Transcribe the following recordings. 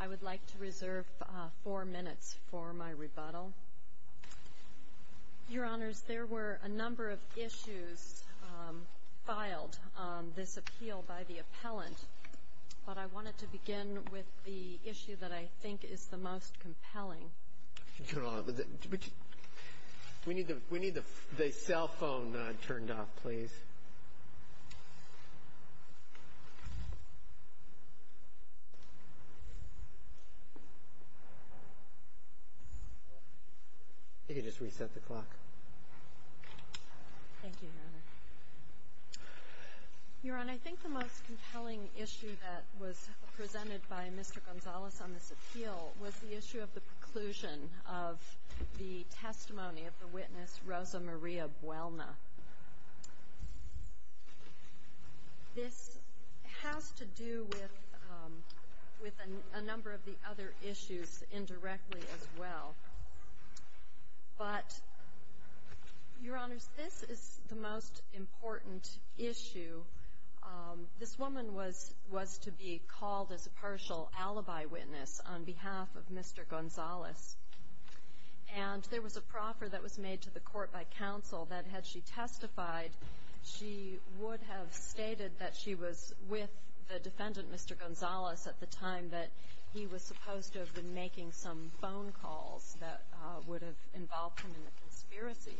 I would like to reserve four minutes for my rebuttal. Your honors, there were a number of issues filed on this appeal by the appellant, but I wanted to begin with the issue that I think is the most compelling. Your honor, I think the most compelling issue that was presented by Mr. Gonzales on this case is the conclusion of the testimony of the witness Rosa Maria Buelna. This has to do with a number of the other issues indirectly as well, but your honors, this is the most important issue. This woman was to be called as a partial alibi witness on behalf of Mr. Gonzales, and there was a proffer that was made to the court by counsel that had she testified, she would have stated that she was with the defendant, Mr. Gonzales, at the time that he was supposed to have been making some phone calls that would have involved him in the conspiracy.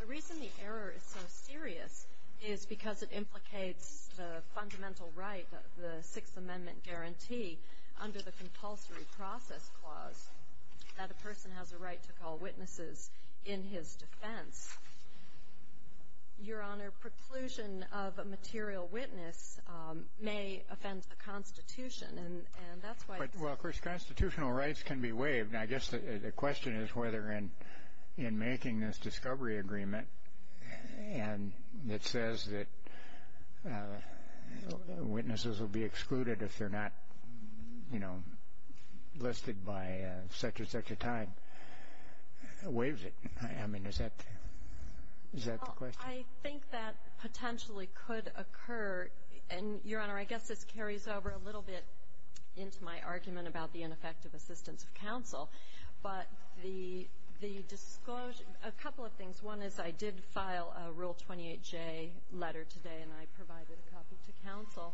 The reason the error is so serious is because it implicates the fundamental right of the Sixth Amendment guarantee under the compulsory process clause that a person has a right to call witnesses in his defense. Your honor, preclusion of a material witness may offend the Constitution, and that's why But, well, of course, constitutional rights can be waived, and I guess the question is whether in making this discovery agreement, and it says that witnesses will be excluded if they're not, you know, listed by such and such a time, waives it. I mean, is that the question? I think that potentially could occur, and your honor, I guess this carries over a little bit into my argument about the ineffective assistance of counsel, but the disclosure A couple of things. One is I did file a Rule 28J letter today, and I provided a copy to counsel.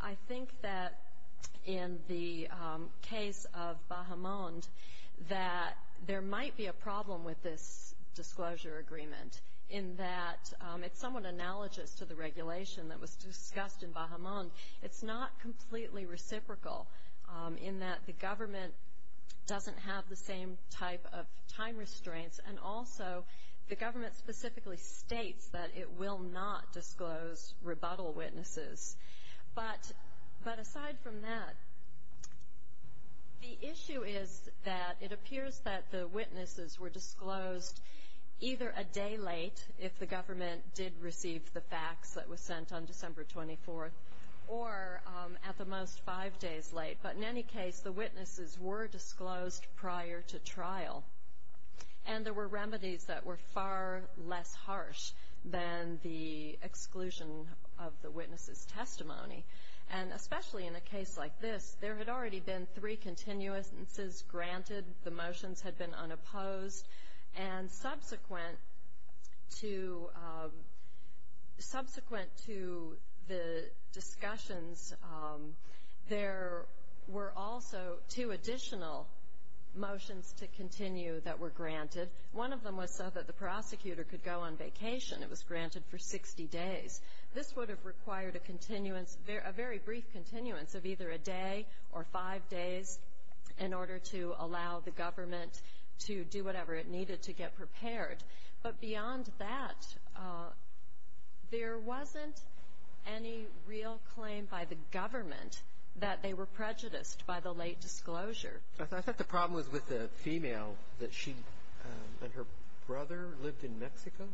I think that in the case of Bahamond, that there might be a problem with this disclosure agreement in that it's somewhat analogous to the regulation that was discussed in Bahamond. It's not completely reciprocal in that the government doesn't have the same type of time restraints, and also the government specifically states that it will not disclose rebuttal witnesses. But aside from that, the issue is that it appears that the witnesses were disclosed either a day late, if the government did receive the facts that was sent on December 24th, or at the most five days late. But in any case, the witnesses were disclosed prior to trial, and there were remedies that were far less harsh than the exclusion of the witness's testimony. And especially in a case like this, there had already been three continuances granted. The motions had been unopposed. And subsequent to the discussions, there were also two additional motions to continue that were granted. One of them was so that the prosecutor could go on vacation. It was granted for 60 days. This would have required a continuance, a very brief continuance of either a day or five days in order to allow the government to do whatever it needed to get prepared. But beyond that, there wasn't any real claim by the government that they were prejudiced by the late disclosure. Roberts. I thought the problem was with the female, that she and her brother lived in Mexico?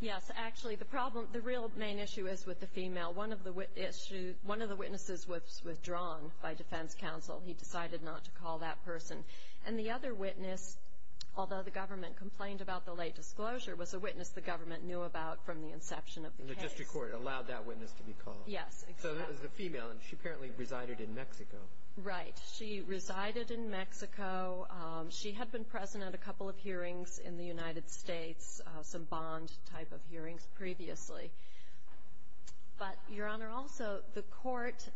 Yes. Actually, the problem, the real main issue is with the female. One of the witnesses was withdrawn by defense counsel. He decided not to call that person. And the other witness, although the government complained about the late disclosure, was a witness the government knew about from the inception of the case. And the district court allowed that witness to be called. Yes, exactly. So that was the female, and she apparently resided in Mexico. Right. She resided in Mexico. She had been present at a couple of hearings in the United States, some bond type of hearings previously. But, Your Honor, also the court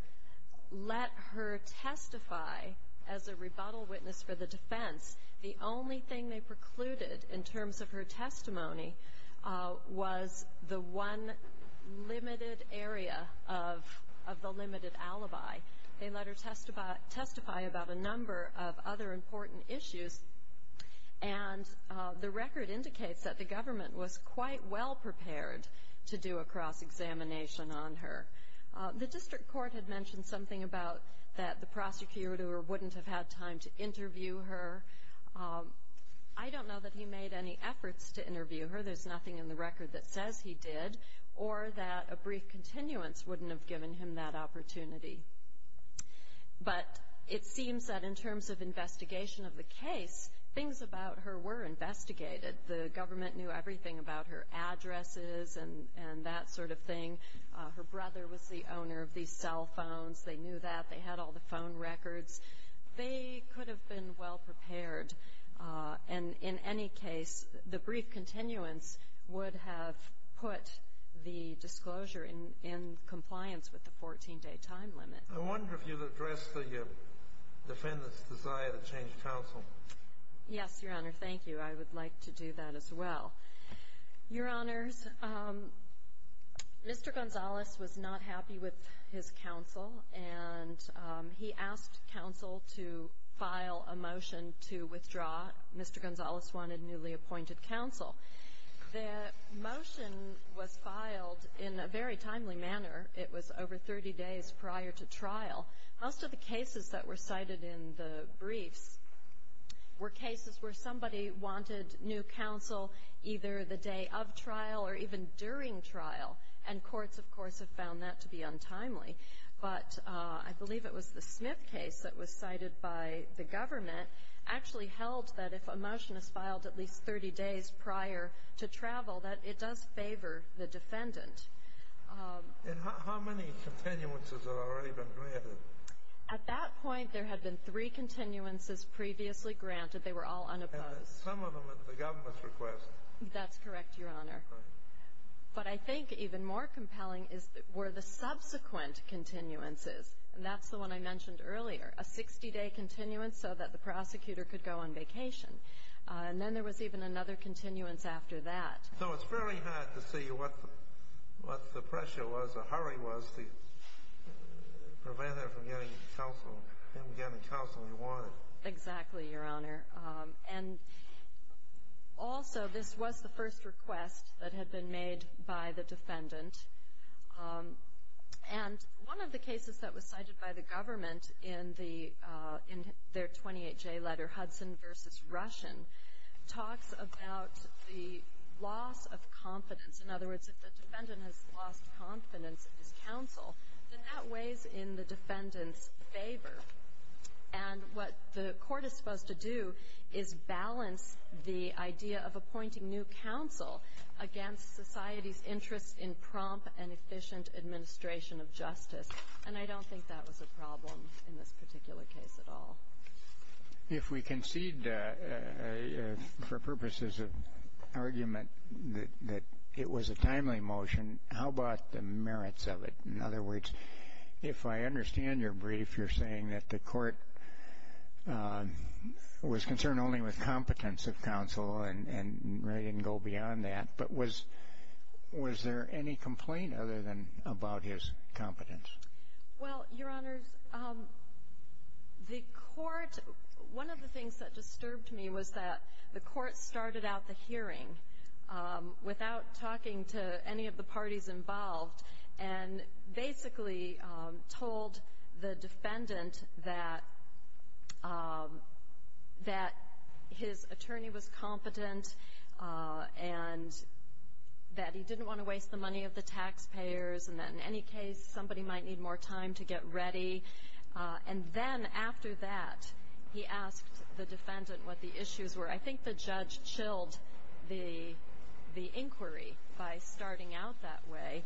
let her testify as a rebuttal witness for the defense. The only thing they precluded in terms of her testimony was the one limited area of the limited alibi. They let her testify about a number of other important issues. And the record indicates that the government was quite well prepared to do a cross-examination on her. The district court had mentioned something about that the prosecutor wouldn't have had time to interview her. I don't know that he made any efforts to interview her. There's nothing in the record that says he did, or that a brief continuance wouldn't have given him that opportunity. But it seems that in terms of investigation of the case, things about her were investigated. The government knew everything about her addresses and that sort of thing. Her brother was the owner of these cell phones. They knew that. They had all the phone records. They could have been well prepared. And in any case, the brief continuance would have put the disclosure in compliance with the 14-day time limit. I wonder if you'd address the defendant's desire to change counsel. Yes, Your Honor. Thank you. I would like to do that as well. Your Honors, Mr. Gonzalez was not happy with his counsel, and he asked counsel to file a motion to withdraw. Mr. Gonzalez wanted newly appointed counsel. The motion was filed in a very timely manner. It was over 30 days prior to trial. Most of the cases that were cited in the briefs were cases where somebody wanted new counsel either the day of trial or even during trial, and courts, of course, have found that to be untimely. But I believe it was the Smith case that was cited by the government actually held that if a motion is filed at least 30 days prior to travel, that it does favor the defendant. And how many continuances had already been granted? At that point, there had been three continuances previously granted. They were all unopposed. Some of them at the government's request. That's correct, Your Honor. But I think even more compelling were the subsequent continuances, and that's the one I mentioned earlier, a 60-day continuance so that the prosecutor could go on vacation. And then there was even another continuance after that. So it's very hard to see what the pressure was, the hurry was, to prevent him from getting counsel he wanted. Exactly, Your Honor. And also, this was the first request that had been made by the defendant. And one of the cases that was cited by the government in their 28-J letter, Hudson v. Russian, talks about the loss of confidence. In other words, if the defendant has lost confidence in his counsel, then that weighs in the defendant's favor. And what the court is supposed to do is balance the idea of appointing new counsel against society's interest in prompt and efficient administration of justice. And I don't think that was a problem in this particular case at all. If we concede, for purposes of argument, that it was a timely motion, how about the merits of it? In other words, if I understand your brief, you're saying that the court was concerned only with competence of counsel and really didn't go beyond that. But was there any complaint other than about his competence? Well, Your Honors, the court — one of the things that disturbed me was that the court started out the hearing without talking to any of the parties involved and basically told the defendant that his attorney was competent and that he didn't want to waste the money of the taxpayers and that in any case somebody might need more time to get ready. And then after that, he asked the defendant what the issues were. I think the judge chilled the inquiry by starting out that way.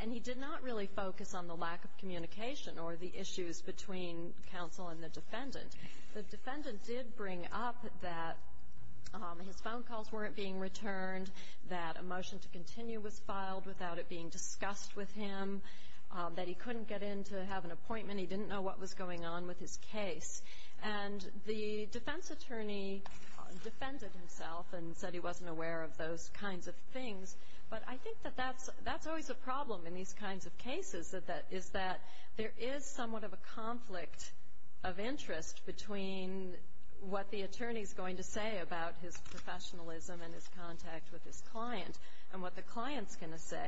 And he did not really focus on the lack of communication or the issues between counsel and the defendant. The defendant did bring up that his phone calls weren't being returned, that a motion to continue was filed without it being discussed with him, that he couldn't get in to have an appointment. He didn't know what was going on with his case. And the defense attorney defended himself and said he wasn't aware of those kinds of things. But I think that that's always a problem in these kinds of cases, is that there is somewhat of a conflict of interest between what the attorney is going to say about his professionalism and his contact with his client. And what the client's going to say.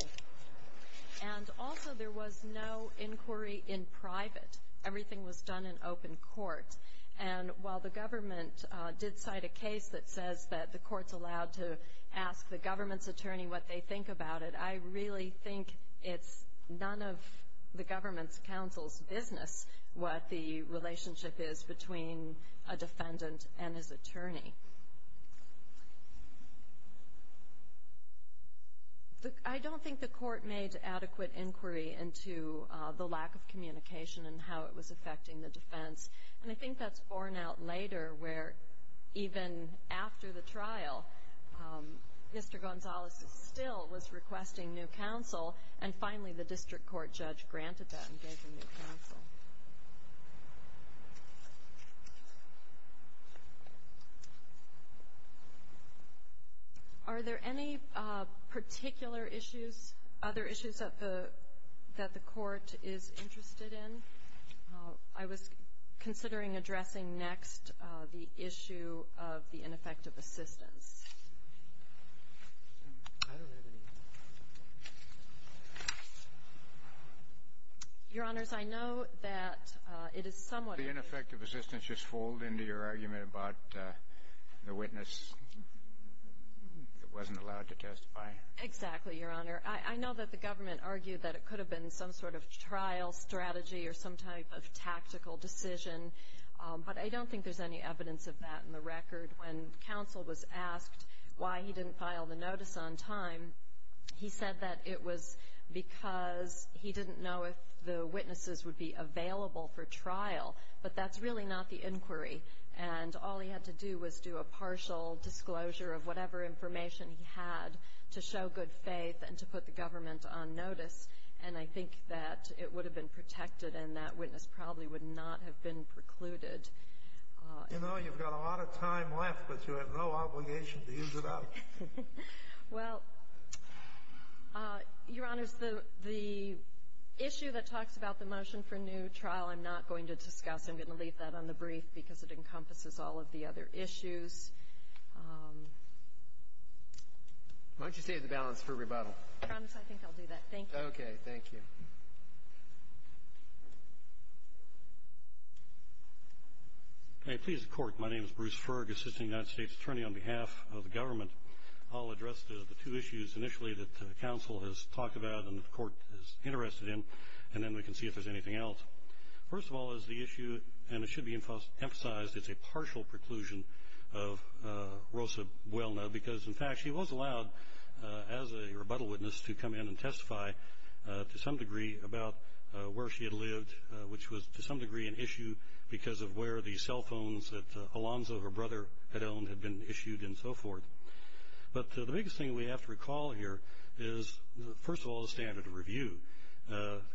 And also there was no inquiry in private. Everything was done in open court. And while the government did cite a case that says that the court's allowed to ask the government's attorney what they think about it, I really think it's none of the government's counsel's business what the relationship is between a defendant and his attorney. I don't think the court made adequate inquiry into the lack of communication and how it was affecting the defense. And I think that's borne out later, where even after the trial, Mr. Gonzalez still was requesting new counsel. And finally, the district court judge granted that and gave him new counsel. Are there any particular issues, other issues, that the court is interested in? I was considering addressing next the issue of the ineffective assistance. Your Honors, I know that there are a lot of people who are interested in the ineffectiveness of the witness. The ineffective assistance just fold into your argument about the witness wasn't allowed to testify? Exactly, Your Honor. I know that the government argued that it could have been some sort of trial strategy or some type of tactical decision. But I don't think there's any evidence of that in the record. When counsel was asked why he didn't file the notice on time, he said that it was because he didn't know if the witnesses would be available for trial. But that's really not the inquiry. And all he had to do was do a partial disclosure of whatever information he had to show good faith and to put the government on notice. And I think that it would have been protected and that witness probably would not have been precluded. You know, you've got a lot of time left, but you have no obligation to use it up. Well, Your Honor, the issue that talks about the motion for new trial, I'm not going to discuss. I'm going to leave that on the brief because it encompasses all of the other issues. Why don't you save the balance for rebuttal? I promise I think I'll do that. Thank you. Okay, thank you. May I please have the court. My name is Bruce Ferg, Assistant United States Attorney on behalf of the government. I'll address the two issues initially that counsel has talked about and the court is interested in. And then we can see if there's anything else. First of all is the issue, and it should be emphasized, it's a partial preclusion of Rosa Buelna because, in fact, she was allowed as a rebuttal witness to come in and testify to some degree about where she had lived, which was to some degree an issue because of where the cell phones that Alonzo, her brother, had owned had been issued and so forth. But the biggest thing we have to recall here is, first of all, the standard of review.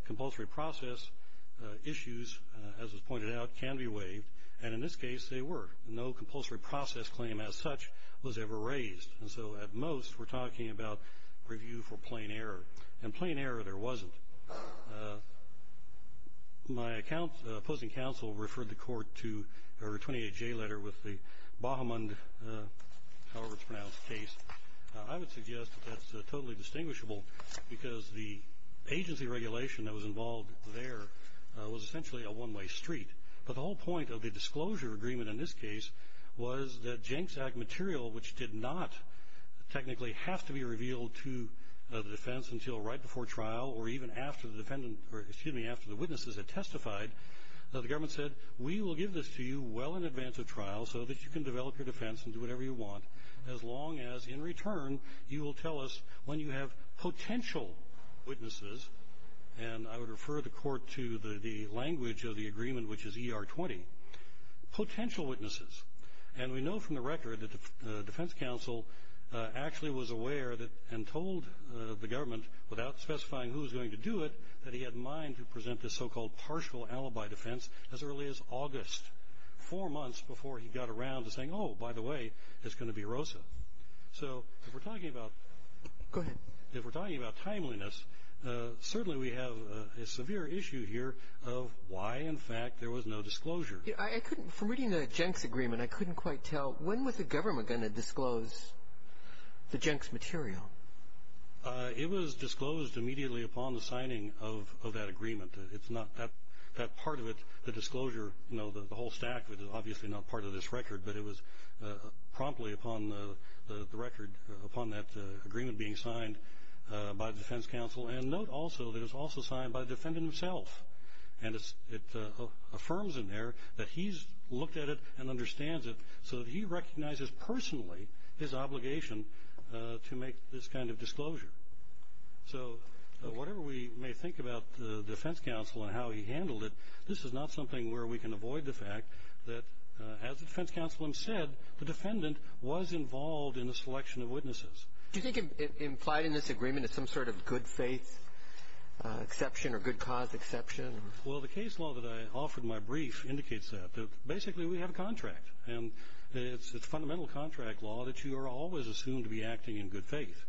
Compulsory process issues, as was pointed out, can be waived. And in this case, they were. No compulsory process claim as such was ever raised. And so, at most, we're talking about review for plain error. And plain error there wasn't. My opposing counsel referred the court to her 28-J letter with the Bahamund, however it's pronounced, case. I would suggest that's totally distinguishable because the agency regulation that was involved there was essentially a one-way street. But the whole point of the disclosure agreement in this case was that Jenks Act material, which did not technically have to be revealed to the defense until right before trial or even after the witnesses had testified, the government said, we will give this to you well in advance of trial so that you can develop your defense and do whatever you want as long as, in return, you will tell us when you have potential witnesses. And I would refer the court to the language of the agreement, which is ER20. Potential witnesses. And we know from the record that the defense counsel actually was aware and told the government without specifying who was going to do it, that he had in mind to present this so-called partial alibi defense as early as August, four months before he got around to saying, oh, by the way, it's going to be Rosa. So if we're talking about timeliness, certainly we have a severe issue here of why, in fact, there was no disclosure. From reading the Jenks agreement, I couldn't quite tell, when was the government going to disclose the Jenks material? It was disclosed immediately upon the signing of that agreement. It's not that part of it, the disclosure, you know, the whole stack of it is obviously not part of this record, but it was promptly upon the record, upon that agreement being signed by the defense counsel. And note also that it was also signed by the defendant himself. And it affirms in there that he's looked at it and understands it so that he recognizes personally his obligation to make this kind of disclosure. So whatever we may think about the defense counsel and how he handled it, this is not something where we can avoid the fact that, as the defense counsel himself said, the defendant was involved in the selection of witnesses. Do you think implied in this agreement is some sort of good faith exception or good cause exception? Well, the case law that I offered in my brief indicates that. Basically, we have a contract. And it's fundamental contract law that you are always assumed to be acting in good faith.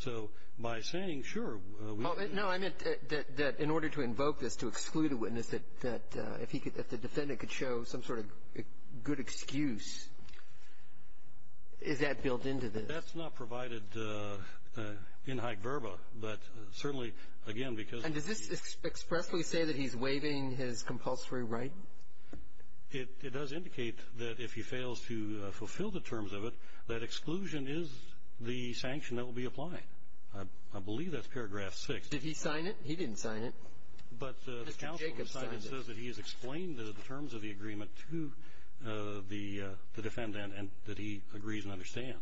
So by saying, sure, we can. No, I meant that in order to invoke this, to exclude a witness, that if the defendant could show some sort of good excuse, is that built into this? That's not provided in high verba, but certainly, again, because. And does this expressly say that he's waiving his compulsory right? It does indicate that if he fails to fulfill the terms of it, that exclusion is the sanction that will be applied. I believe that's paragraph six. Did he sign it? He didn't sign it. But the counsel who signed it says that he has explained the terms of the agreement to the defendant and that he agrees and understands.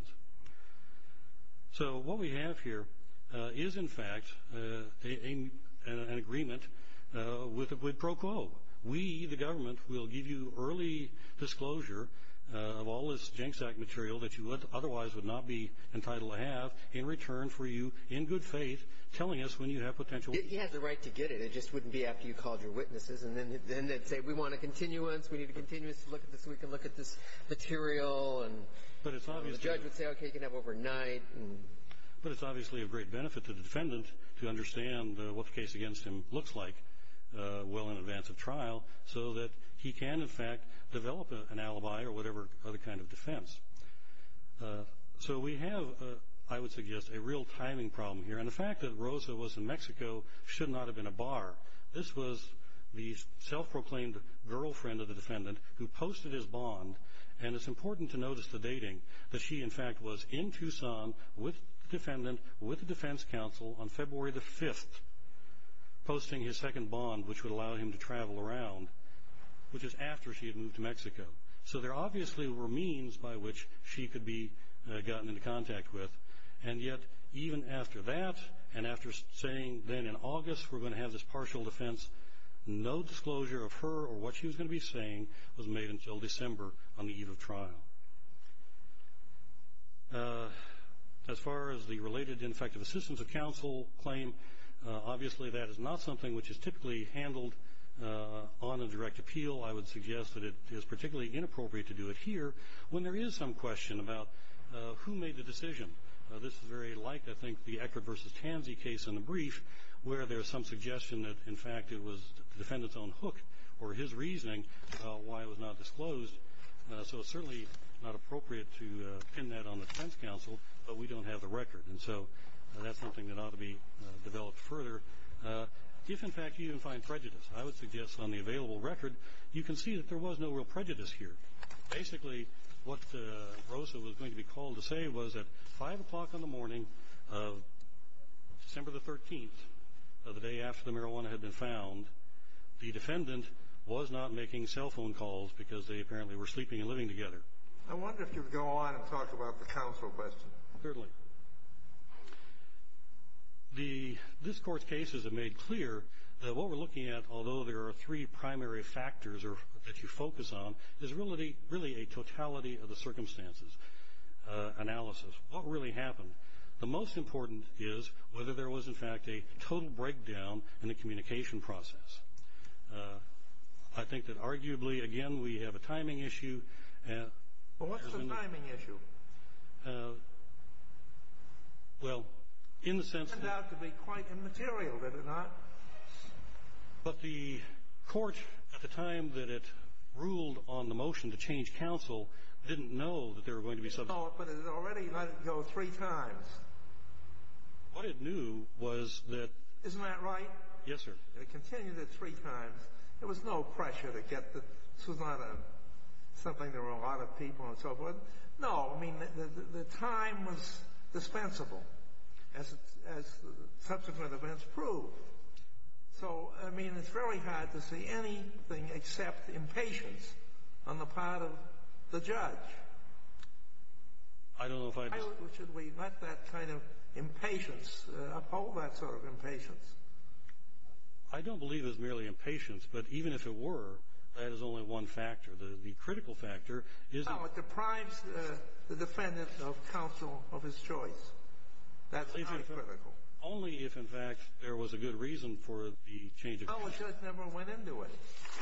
We, the government, will give you early disclosure of all this JNCSAC material that you otherwise would not be entitled to have in return for you, in good faith, telling us when you have potential. He has the right to get it. It just wouldn't be after you called your witnesses. And then they'd say, we want a continuance. We need a continuance so we can look at this material. And the judge would say, OK, you can have it overnight. But it's obviously of great benefit to the defendant to understand what the case against him looks like well in advance of trial so that he can, in fact, develop an alibi or whatever other kind of defense. So we have, I would suggest, a real timing problem here. And the fact that Rosa was in Mexico should not have been a bar. This was the self-proclaimed girlfriend of the defendant who posted his bond. And it's important to notice the dating, that she, in fact, was in Tucson with the defendant with the defense counsel on February the 5th. Posting his second bond, which would allow him to travel around, which is after she had moved to Mexico. So there obviously were means by which she could be gotten into contact with. And yet, even after that, and after saying then in August we're going to have this partial defense, no disclosure of her or what she was going to be saying was made until December on the eve of trial. As far as the related, in effect, assistance of counsel claim, obviously that is not something which is typically handled on a direct appeal. I would suggest that it is particularly inappropriate to do it here when there is some question about who made the decision. This is very like, I think, the Eckert versus Tansey case in the brief where there's some suggestion that, in fact, it was the defendant's own hook or his reasoning why it was not disclosed. So it's certainly not appropriate to pin that on the defense counsel, but we don't have the record. And so that's something that ought to be developed further. If, in fact, you even find prejudice, I would suggest on the available record you can see that there was no real prejudice here. Basically, what Rosa was going to be called to say was that 5 o'clock in the morning of December the 13th, the day after the marijuana had been found, the defendant was not making cell phone calls because they apparently were sleeping and living together. I wonder if you'd go on and talk about the counsel question. Certainly. The, this court's cases have made clear that what we're looking at, although there are three primary factors that you focus on, is really a totality of the circumstances analysis. What really happened? The most important is whether there was, in fact, a total breakdown in the communication process. Uh, I think that arguably, again, we have a timing issue. Well, what's the timing issue? Well, in the sense that... It turned out to be quite immaterial, did it not? But the court, at the time that it ruled on the motion to change counsel, didn't know that there were going to be... It saw it, but it had already let it go three times. What it knew was that... Isn't that right? Yes, sir. It continued it three times. There was no pressure to get the... This was not a... Something there were a lot of people and so forth. No, I mean, the time was dispensable, as subsequent events proved. So, I mean, it's very hard to see anything except impatience on the part of the judge. I don't know if I... Should we let that kind of impatience, uphold that sort of impatience? I don't believe it's merely impatience, but even if it were, that is only one factor. The critical factor is... How it deprives the defendant of counsel of his choice. That's not critical. Only if, in fact, there was a good reason for the change of... How a judge never went into it.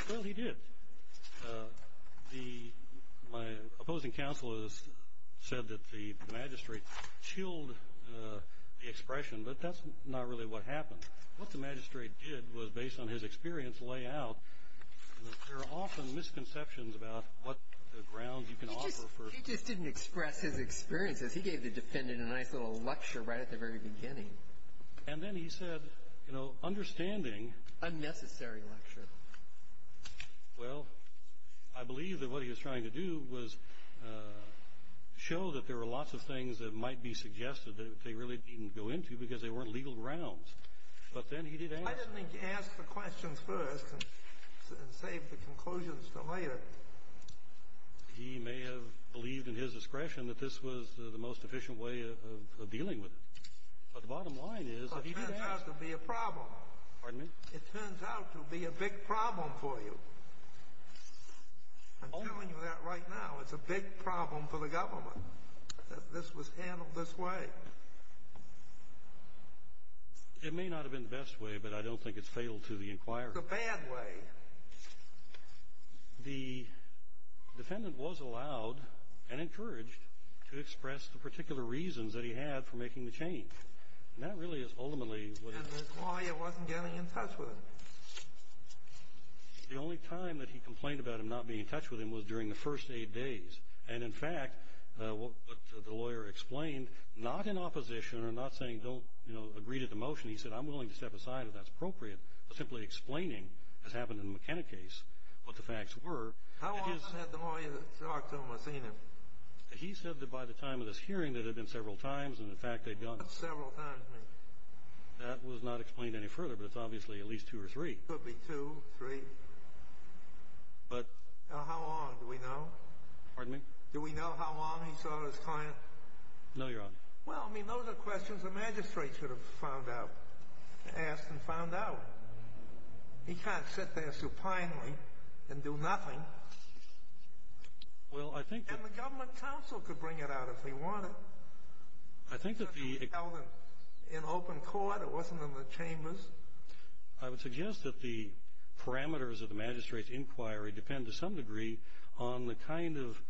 Well, he did. My opposing counsel has said that the magistrate chilled the expression, but that's not really what happened. What the magistrate did was, based on his experience, lay out that there are often misconceptions about what the grounds you can offer for... He just didn't express his experiences. He gave the defendant a nice little lecture right at the very beginning. And then he said, you know, understanding... Unnecessary lecture. Well, I believe that what he was trying to do was show that there were lots of things that might be suggested that they really didn't go into because they weren't legal grounds. But then he did ask... I didn't think he asked the questions first and saved the conclusions for later. He may have believed in his discretion that this was the most efficient way of dealing with it. But the bottom line is... But it turns out to be a problem. Pardon me? It turns out to be a big problem for you. I'm telling you that right now. It's a big problem for the government that this was handled this way. It may not have been the best way, but I don't think it's fatal to the inquiry. It's a bad way. The defendant was allowed and encouraged to express the particular reasons that he had for making the change. And that really is ultimately what... And the lawyer wasn't getting in touch with him. The only time that he complained about him not being in touch with him was during the first eight days. And in fact, what the lawyer explained, not in opposition or not saying don't agree to the motion. He said, I'm willing to step aside if that's appropriate, but simply explaining, as happened in the McKenna case, what the facts were. How often had the lawyer talked to him or seen him? He said that by the time of this hearing, that had been several times. And in fact, they'd gone... Several times, you mean? That was not explained any further, but it's obviously at least two or three. Could be two, three. But... How long? Do we know? Pardon me? Do we know how long he saw his client? No, Your Honor. Well, I mean, those are questions the magistrate should have found out, asked and found out. He can't sit there supinely and do nothing. Well, I think that... And the government counsel could bring it out if he wanted. I think that the... But he held it in open court. It wasn't in the chambers. I would suggest that the parameters of the magistrate's inquiry depend to some degree on the kind of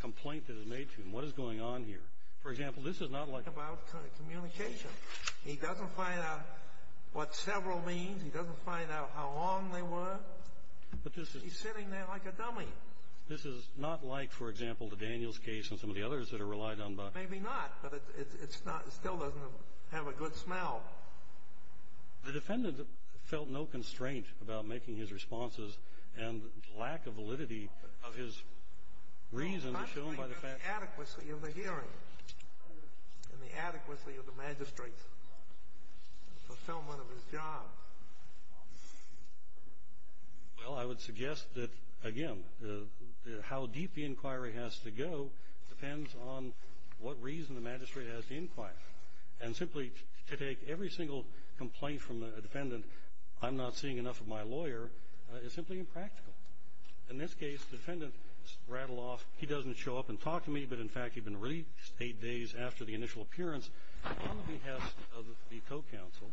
complaint that is made to him. What is going on here? For example, this is not like... About communication. He doesn't find out what several means. He doesn't find out how long they were. But this is... He's sitting there like a dummy. This is not like, for example, the Daniels case and some of the others that are relied on by... Maybe not, but it's not... It still doesn't have a good smell. The defendant felt no constraint about making his responses and lack of validity of his reason is shown by the fact... The adequacy of the hearing and the adequacy of the magistrate's fulfillment of his job. Well, I would suggest that, again, how deep the inquiry has to go depends on what reason the magistrate has to inquire. And simply to take every single complaint from a defendant, I'm not seeing enough of my lawyer, is simply impractical. In this case, defendant rattled off. He doesn't show up and talk to me. But in fact, he'd been released eight days after the initial appearance on behalf of the co-counsel.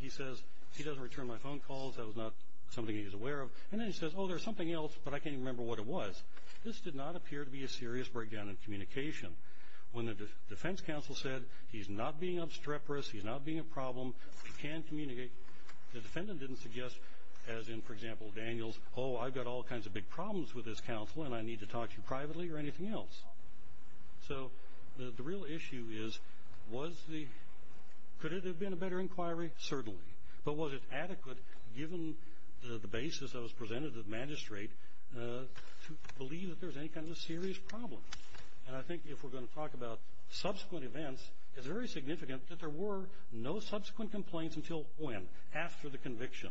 He says, he doesn't return my phone calls. That was not something he was aware of. And then he says, oh, there's something else, but I can't remember what it was. This did not appear to be a serious breakdown in communication. When the defense counsel said, he's not being obstreperous. He's not being a problem. We can communicate. The defendant didn't suggest, as in, for example, Daniel's, oh, I've got all kinds of big problems with this counsel, and I need to talk to you privately or anything else. So the real issue is, was the... Could it have been a better inquiry? Certainly. But was it adequate, given the basis that was presented to the magistrate, to believe that there was any kind of a serious problem? And I think if we're going to talk about subsequent events, it's very significant that there were no subsequent complaints until when? After the conviction.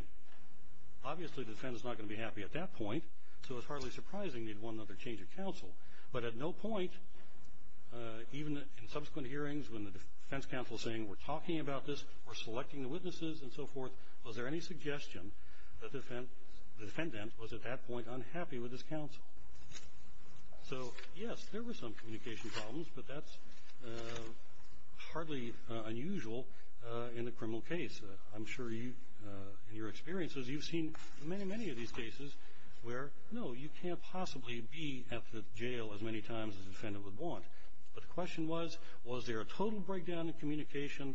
Obviously, the defense is not going to be happy at that point. So it's hardly surprising they'd want another change of counsel. But at no point, even in subsequent hearings, when the defense counsel is saying, we're talking about this, we're selecting the witnesses, and so forth, was there any suggestion that the defendant was at that point unhappy with this counsel? So yes, there were some communication problems, but that's hardly unusual in a criminal case. I'm sure you, in your experiences, you've seen many, many of these cases where, no, you can't possibly be at the jail as many times as a defendant would want. But the question was, was there a total breakdown in communication,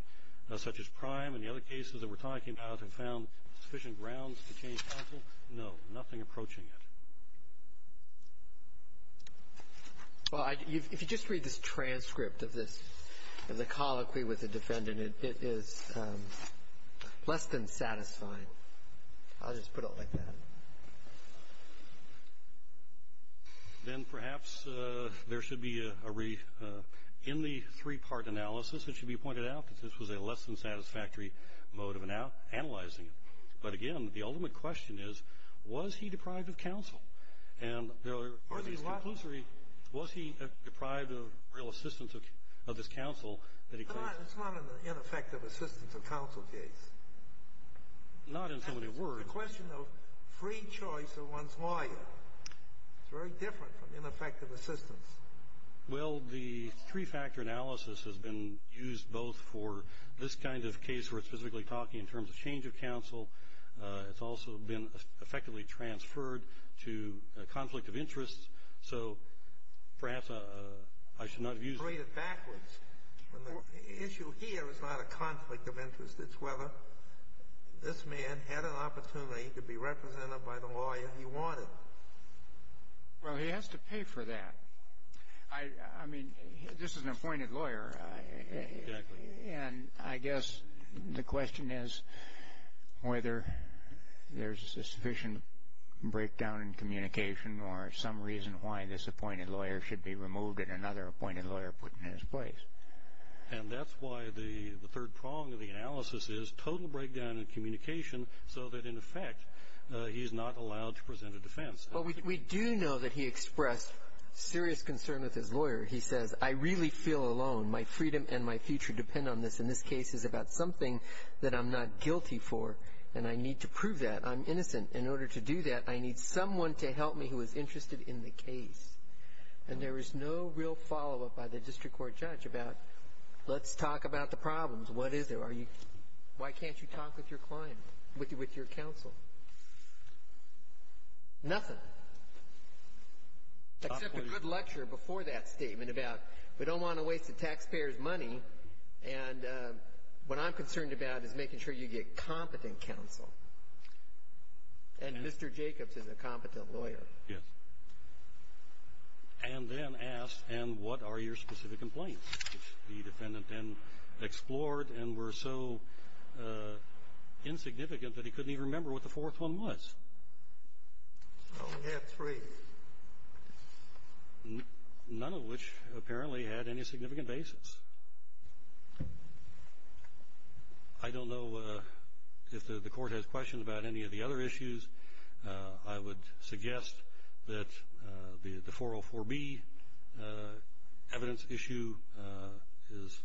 such as prime and the other cases that we're talking about have found sufficient grounds to change counsel? No. Nothing approaching it. Well, if you just read this transcript of this, of the colloquy with the defendant, it is less than satisfying. I'll just put it like that. Then perhaps there should be, in the three-part analysis, it should be pointed out that this was a less than satisfactory mode of analyzing it. But again, the ultimate question is, was he deprived of counsel? Was he deprived of real assistance of this counsel? It's not an ineffective assistance of counsel case. Not in so many words. It's a question of free choice of one's lawyer. It's very different from ineffective assistance. Well, the three-factor analysis has been used both for this kind of case where it's physically talking in terms of change of counsel, it's also been effectively transferred to a conflict of interest. So perhaps I should not have used it. I'll read it backwards. Well, the issue here is not a conflict of interest. It's whether this man had an opportunity to be represented by the lawyer he wanted. Well, he has to pay for that. I mean, this is an appointed lawyer. Exactly. And I guess the question is whether there's a sufficient breakdown in communication or some reason why this appointed lawyer should be removed and another appointed lawyer put in his place. And that's why the third prong of the analysis is total breakdown in communication so that in effect, he's not allowed to present a defense. But we do know that he expressed serious concern with his lawyer. He says, I really feel alone. My freedom and my future depend on this. And this case is about something that I'm not guilty for. And I need to prove that. I'm innocent. In order to do that, I need someone to help me who is interested in the case. And there is no real follow-up by the district court judge about, let's talk about the problems. What is it? Why can't you talk with your client, with your counsel? Nothing, except a good lecture before that statement about, we don't want to waste the taxpayer's money. And what I'm concerned about is making sure you get competent counsel. And Mr. Jacobs is a competent lawyer. Yes. And then asked, and what are your specific complaints? Which the defendant then explored and were so insignificant that he couldn't even remember what the fourth one was. So we have three. None of which apparently had any significant basis. I don't know if the court has questions about any of the other issues. I would suggest that the 404B evidence issue is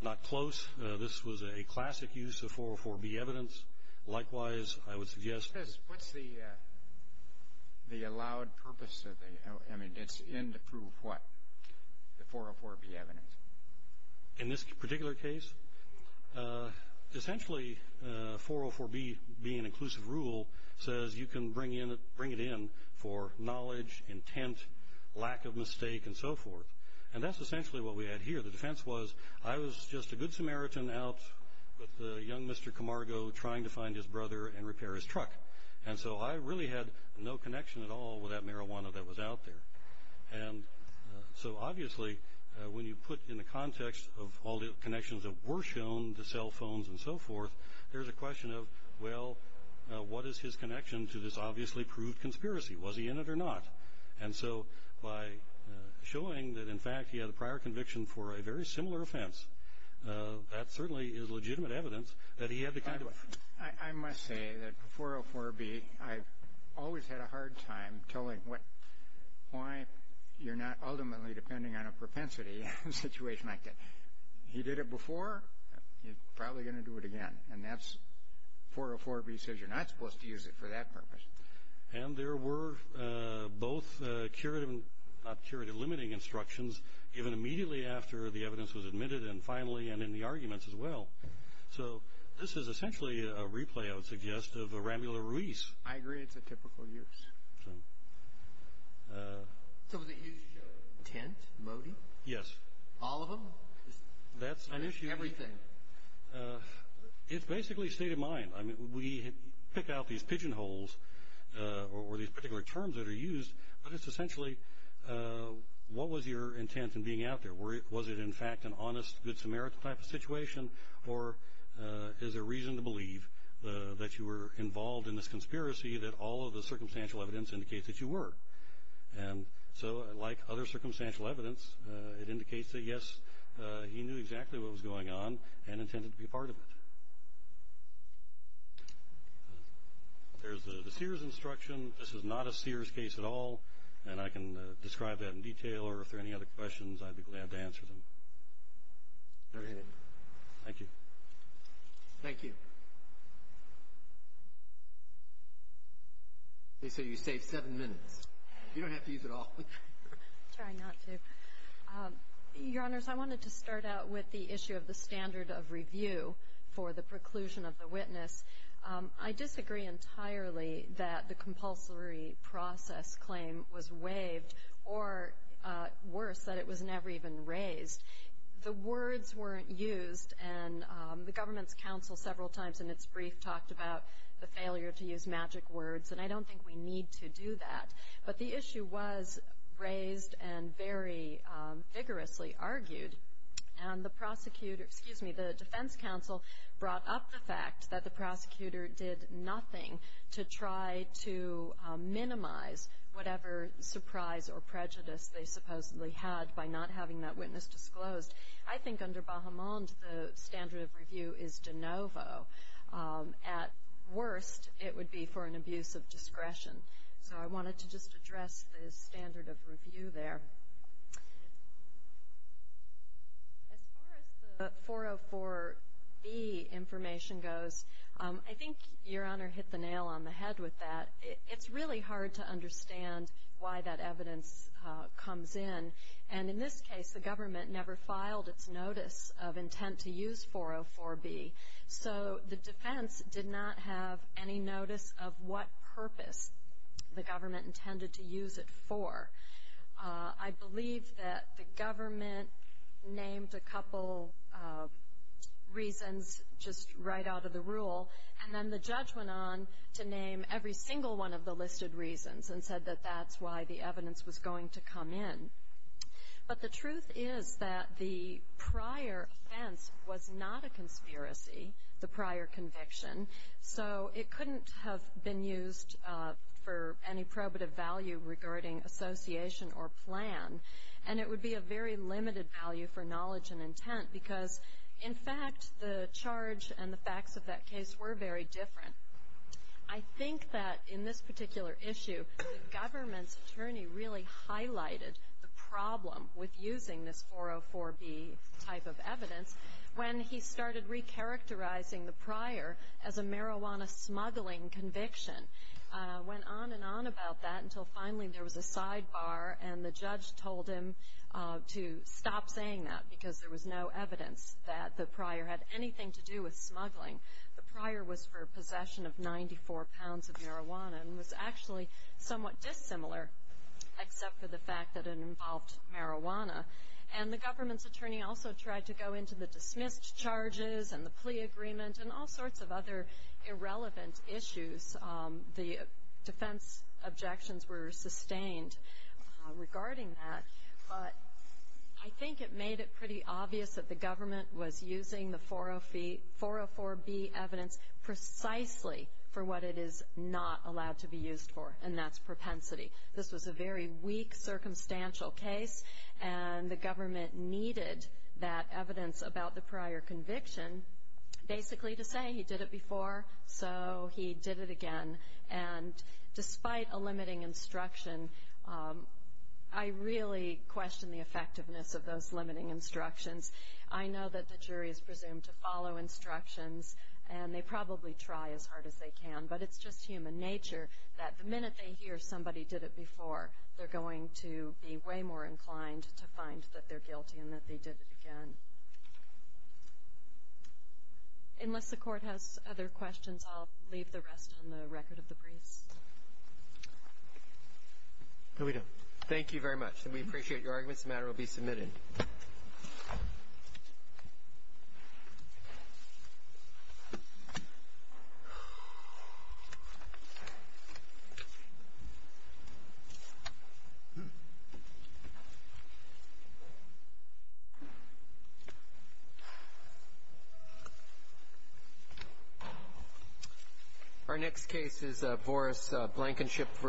not close. This was a classic use of 404B evidence. Likewise, I would suggest... What's the allowed purpose of the... I mean, it's in to prove what? The 404B evidence. In this particular case, essentially 404B being inclusive rule says you can bring it in for knowledge, intent, lack of mistake, and so forth. And that's essentially what we had here. The defense was, I was just a good Samaritan out with a young Mr. Camargo trying to find his brother and repair his truck. And so I really had no connection at all with that marijuana that was out there. And so obviously, when you put in the context of all the connections that were shown, the cell phones and so forth, there's a question of, well, what is his connection to this obviously proved conspiracy? Was he in it or not? And so by showing that, in fact, he had a prior conviction for a very similar offense, that certainly is legitimate evidence that he had the kind of... I must say that 404B, I've always had a hard time telling what, why you're not ultimately depending on a propensity in a situation like that. He did it before, he's probably going to do it again. And that's 404B says you're not supposed to use it for that purpose. And there were both curative and not curative limiting instructions given immediately after the evidence was admitted and finally and in the arguments as well. So this is essentially a replay, I would suggest, of a Ramula Ruiz. I agree, it's a typical use. So was it used to show intent, motive? Yes. All of them? That's an issue. Everything. It's basically state of mind. I mean, we pick out these pigeonholes or these particular terms that are used, but it's essentially, what was your intent in being out there? Was it in fact an honest, good Samaritan type of situation? Or is there reason to believe that you were involved in this conspiracy that all of the circumstantial evidence indicates that you were? And so like other circumstantial evidence, it indicates that yes, he knew exactly what was going on and intended to be a part of it. There's the Sears instruction. This is not a Sears case at all, and I can describe that in detail or if there are any other questions, I'd be glad to answer them. Go ahead. Thank you. Thank you. Okay, so you saved seven minutes. You don't have to use it all. Try not to. Your Honors, I wanted to start out with the issue of the standard of review for the preclusion of the witness. I disagree entirely that the compulsory process claim was waived or worse, that it was never even raised. The words weren't used, and the government's counsel several times in its brief talked about the failure to use magic words, and I don't think we need to do that. But the issue was raised and very vigorously argued, and the prosecutor, excuse me, the defense counsel brought up the fact that the prosecutor did nothing to try to minimize whatever surprise or prejudice they supposedly had by not having that witness disclosed. I think under Bahamond, the standard of review is de novo. At worst, it would be for an abuse of discretion. So I wanted to just address the standard of review there. As far as the 404B information goes, I think Your Honor hit the nail on the head with that. It's really hard to understand why that evidence comes in, and in this case the government never filed its notice of intent to use 404B. So the defense did not have any notice of what purpose the government intended to use it for. I believe that the government named a couple reasons just right out of the rule, and then the judge went on to name every single one of the listed reasons and said that that's why the evidence was going to come in. But the truth is that the prior offense was not a conspiracy, the prior conviction, so it couldn't have been used for any probative value regarding association or plan, and it would be a very limited value for knowledge and intent because, in fact, the charge and the facts of that case were very different. I think that in this particular issue, the government's attorney really highlighted the problem with using this 404B type of evidence when he started recharacterizing the prior as a marijuana smuggling conviction, went on and on about that until finally there was a sidebar and the judge told him to stop saying that because there was no evidence that the prior had anything to do with smuggling. The prior was for possession of 94 pounds of marijuana and was actually somewhat dissimilar, except for the fact that it involved marijuana. And the government's attorney also tried to go into the dismissed charges and the plea agreement and all sorts of other irrelevant issues. The defense objections were sustained regarding that, but I think it made it pretty obvious that the government was using the 404B evidence precisely for what it is not allowed to be used for, and that's propensity. This was a very weak circumstantial case, and the government needed that evidence about the prior conviction basically to say he did it before, so he did it again. And despite a limiting instruction, I really question the effectiveness of those limiting instructions. I know that the jury is presumed to follow instructions, and they probably try as hard as they can, but it's just human nature that the minute they hear somebody did it before, they're going to be way more inclined to find that they're guilty and that they did it again. Unless the court has other questions, I'll leave the rest on the record of the briefs. Here we go. Thank you very much, and we appreciate your arguments. The matter will be submitted. Thank you. Our next case is Boris Blankenship v.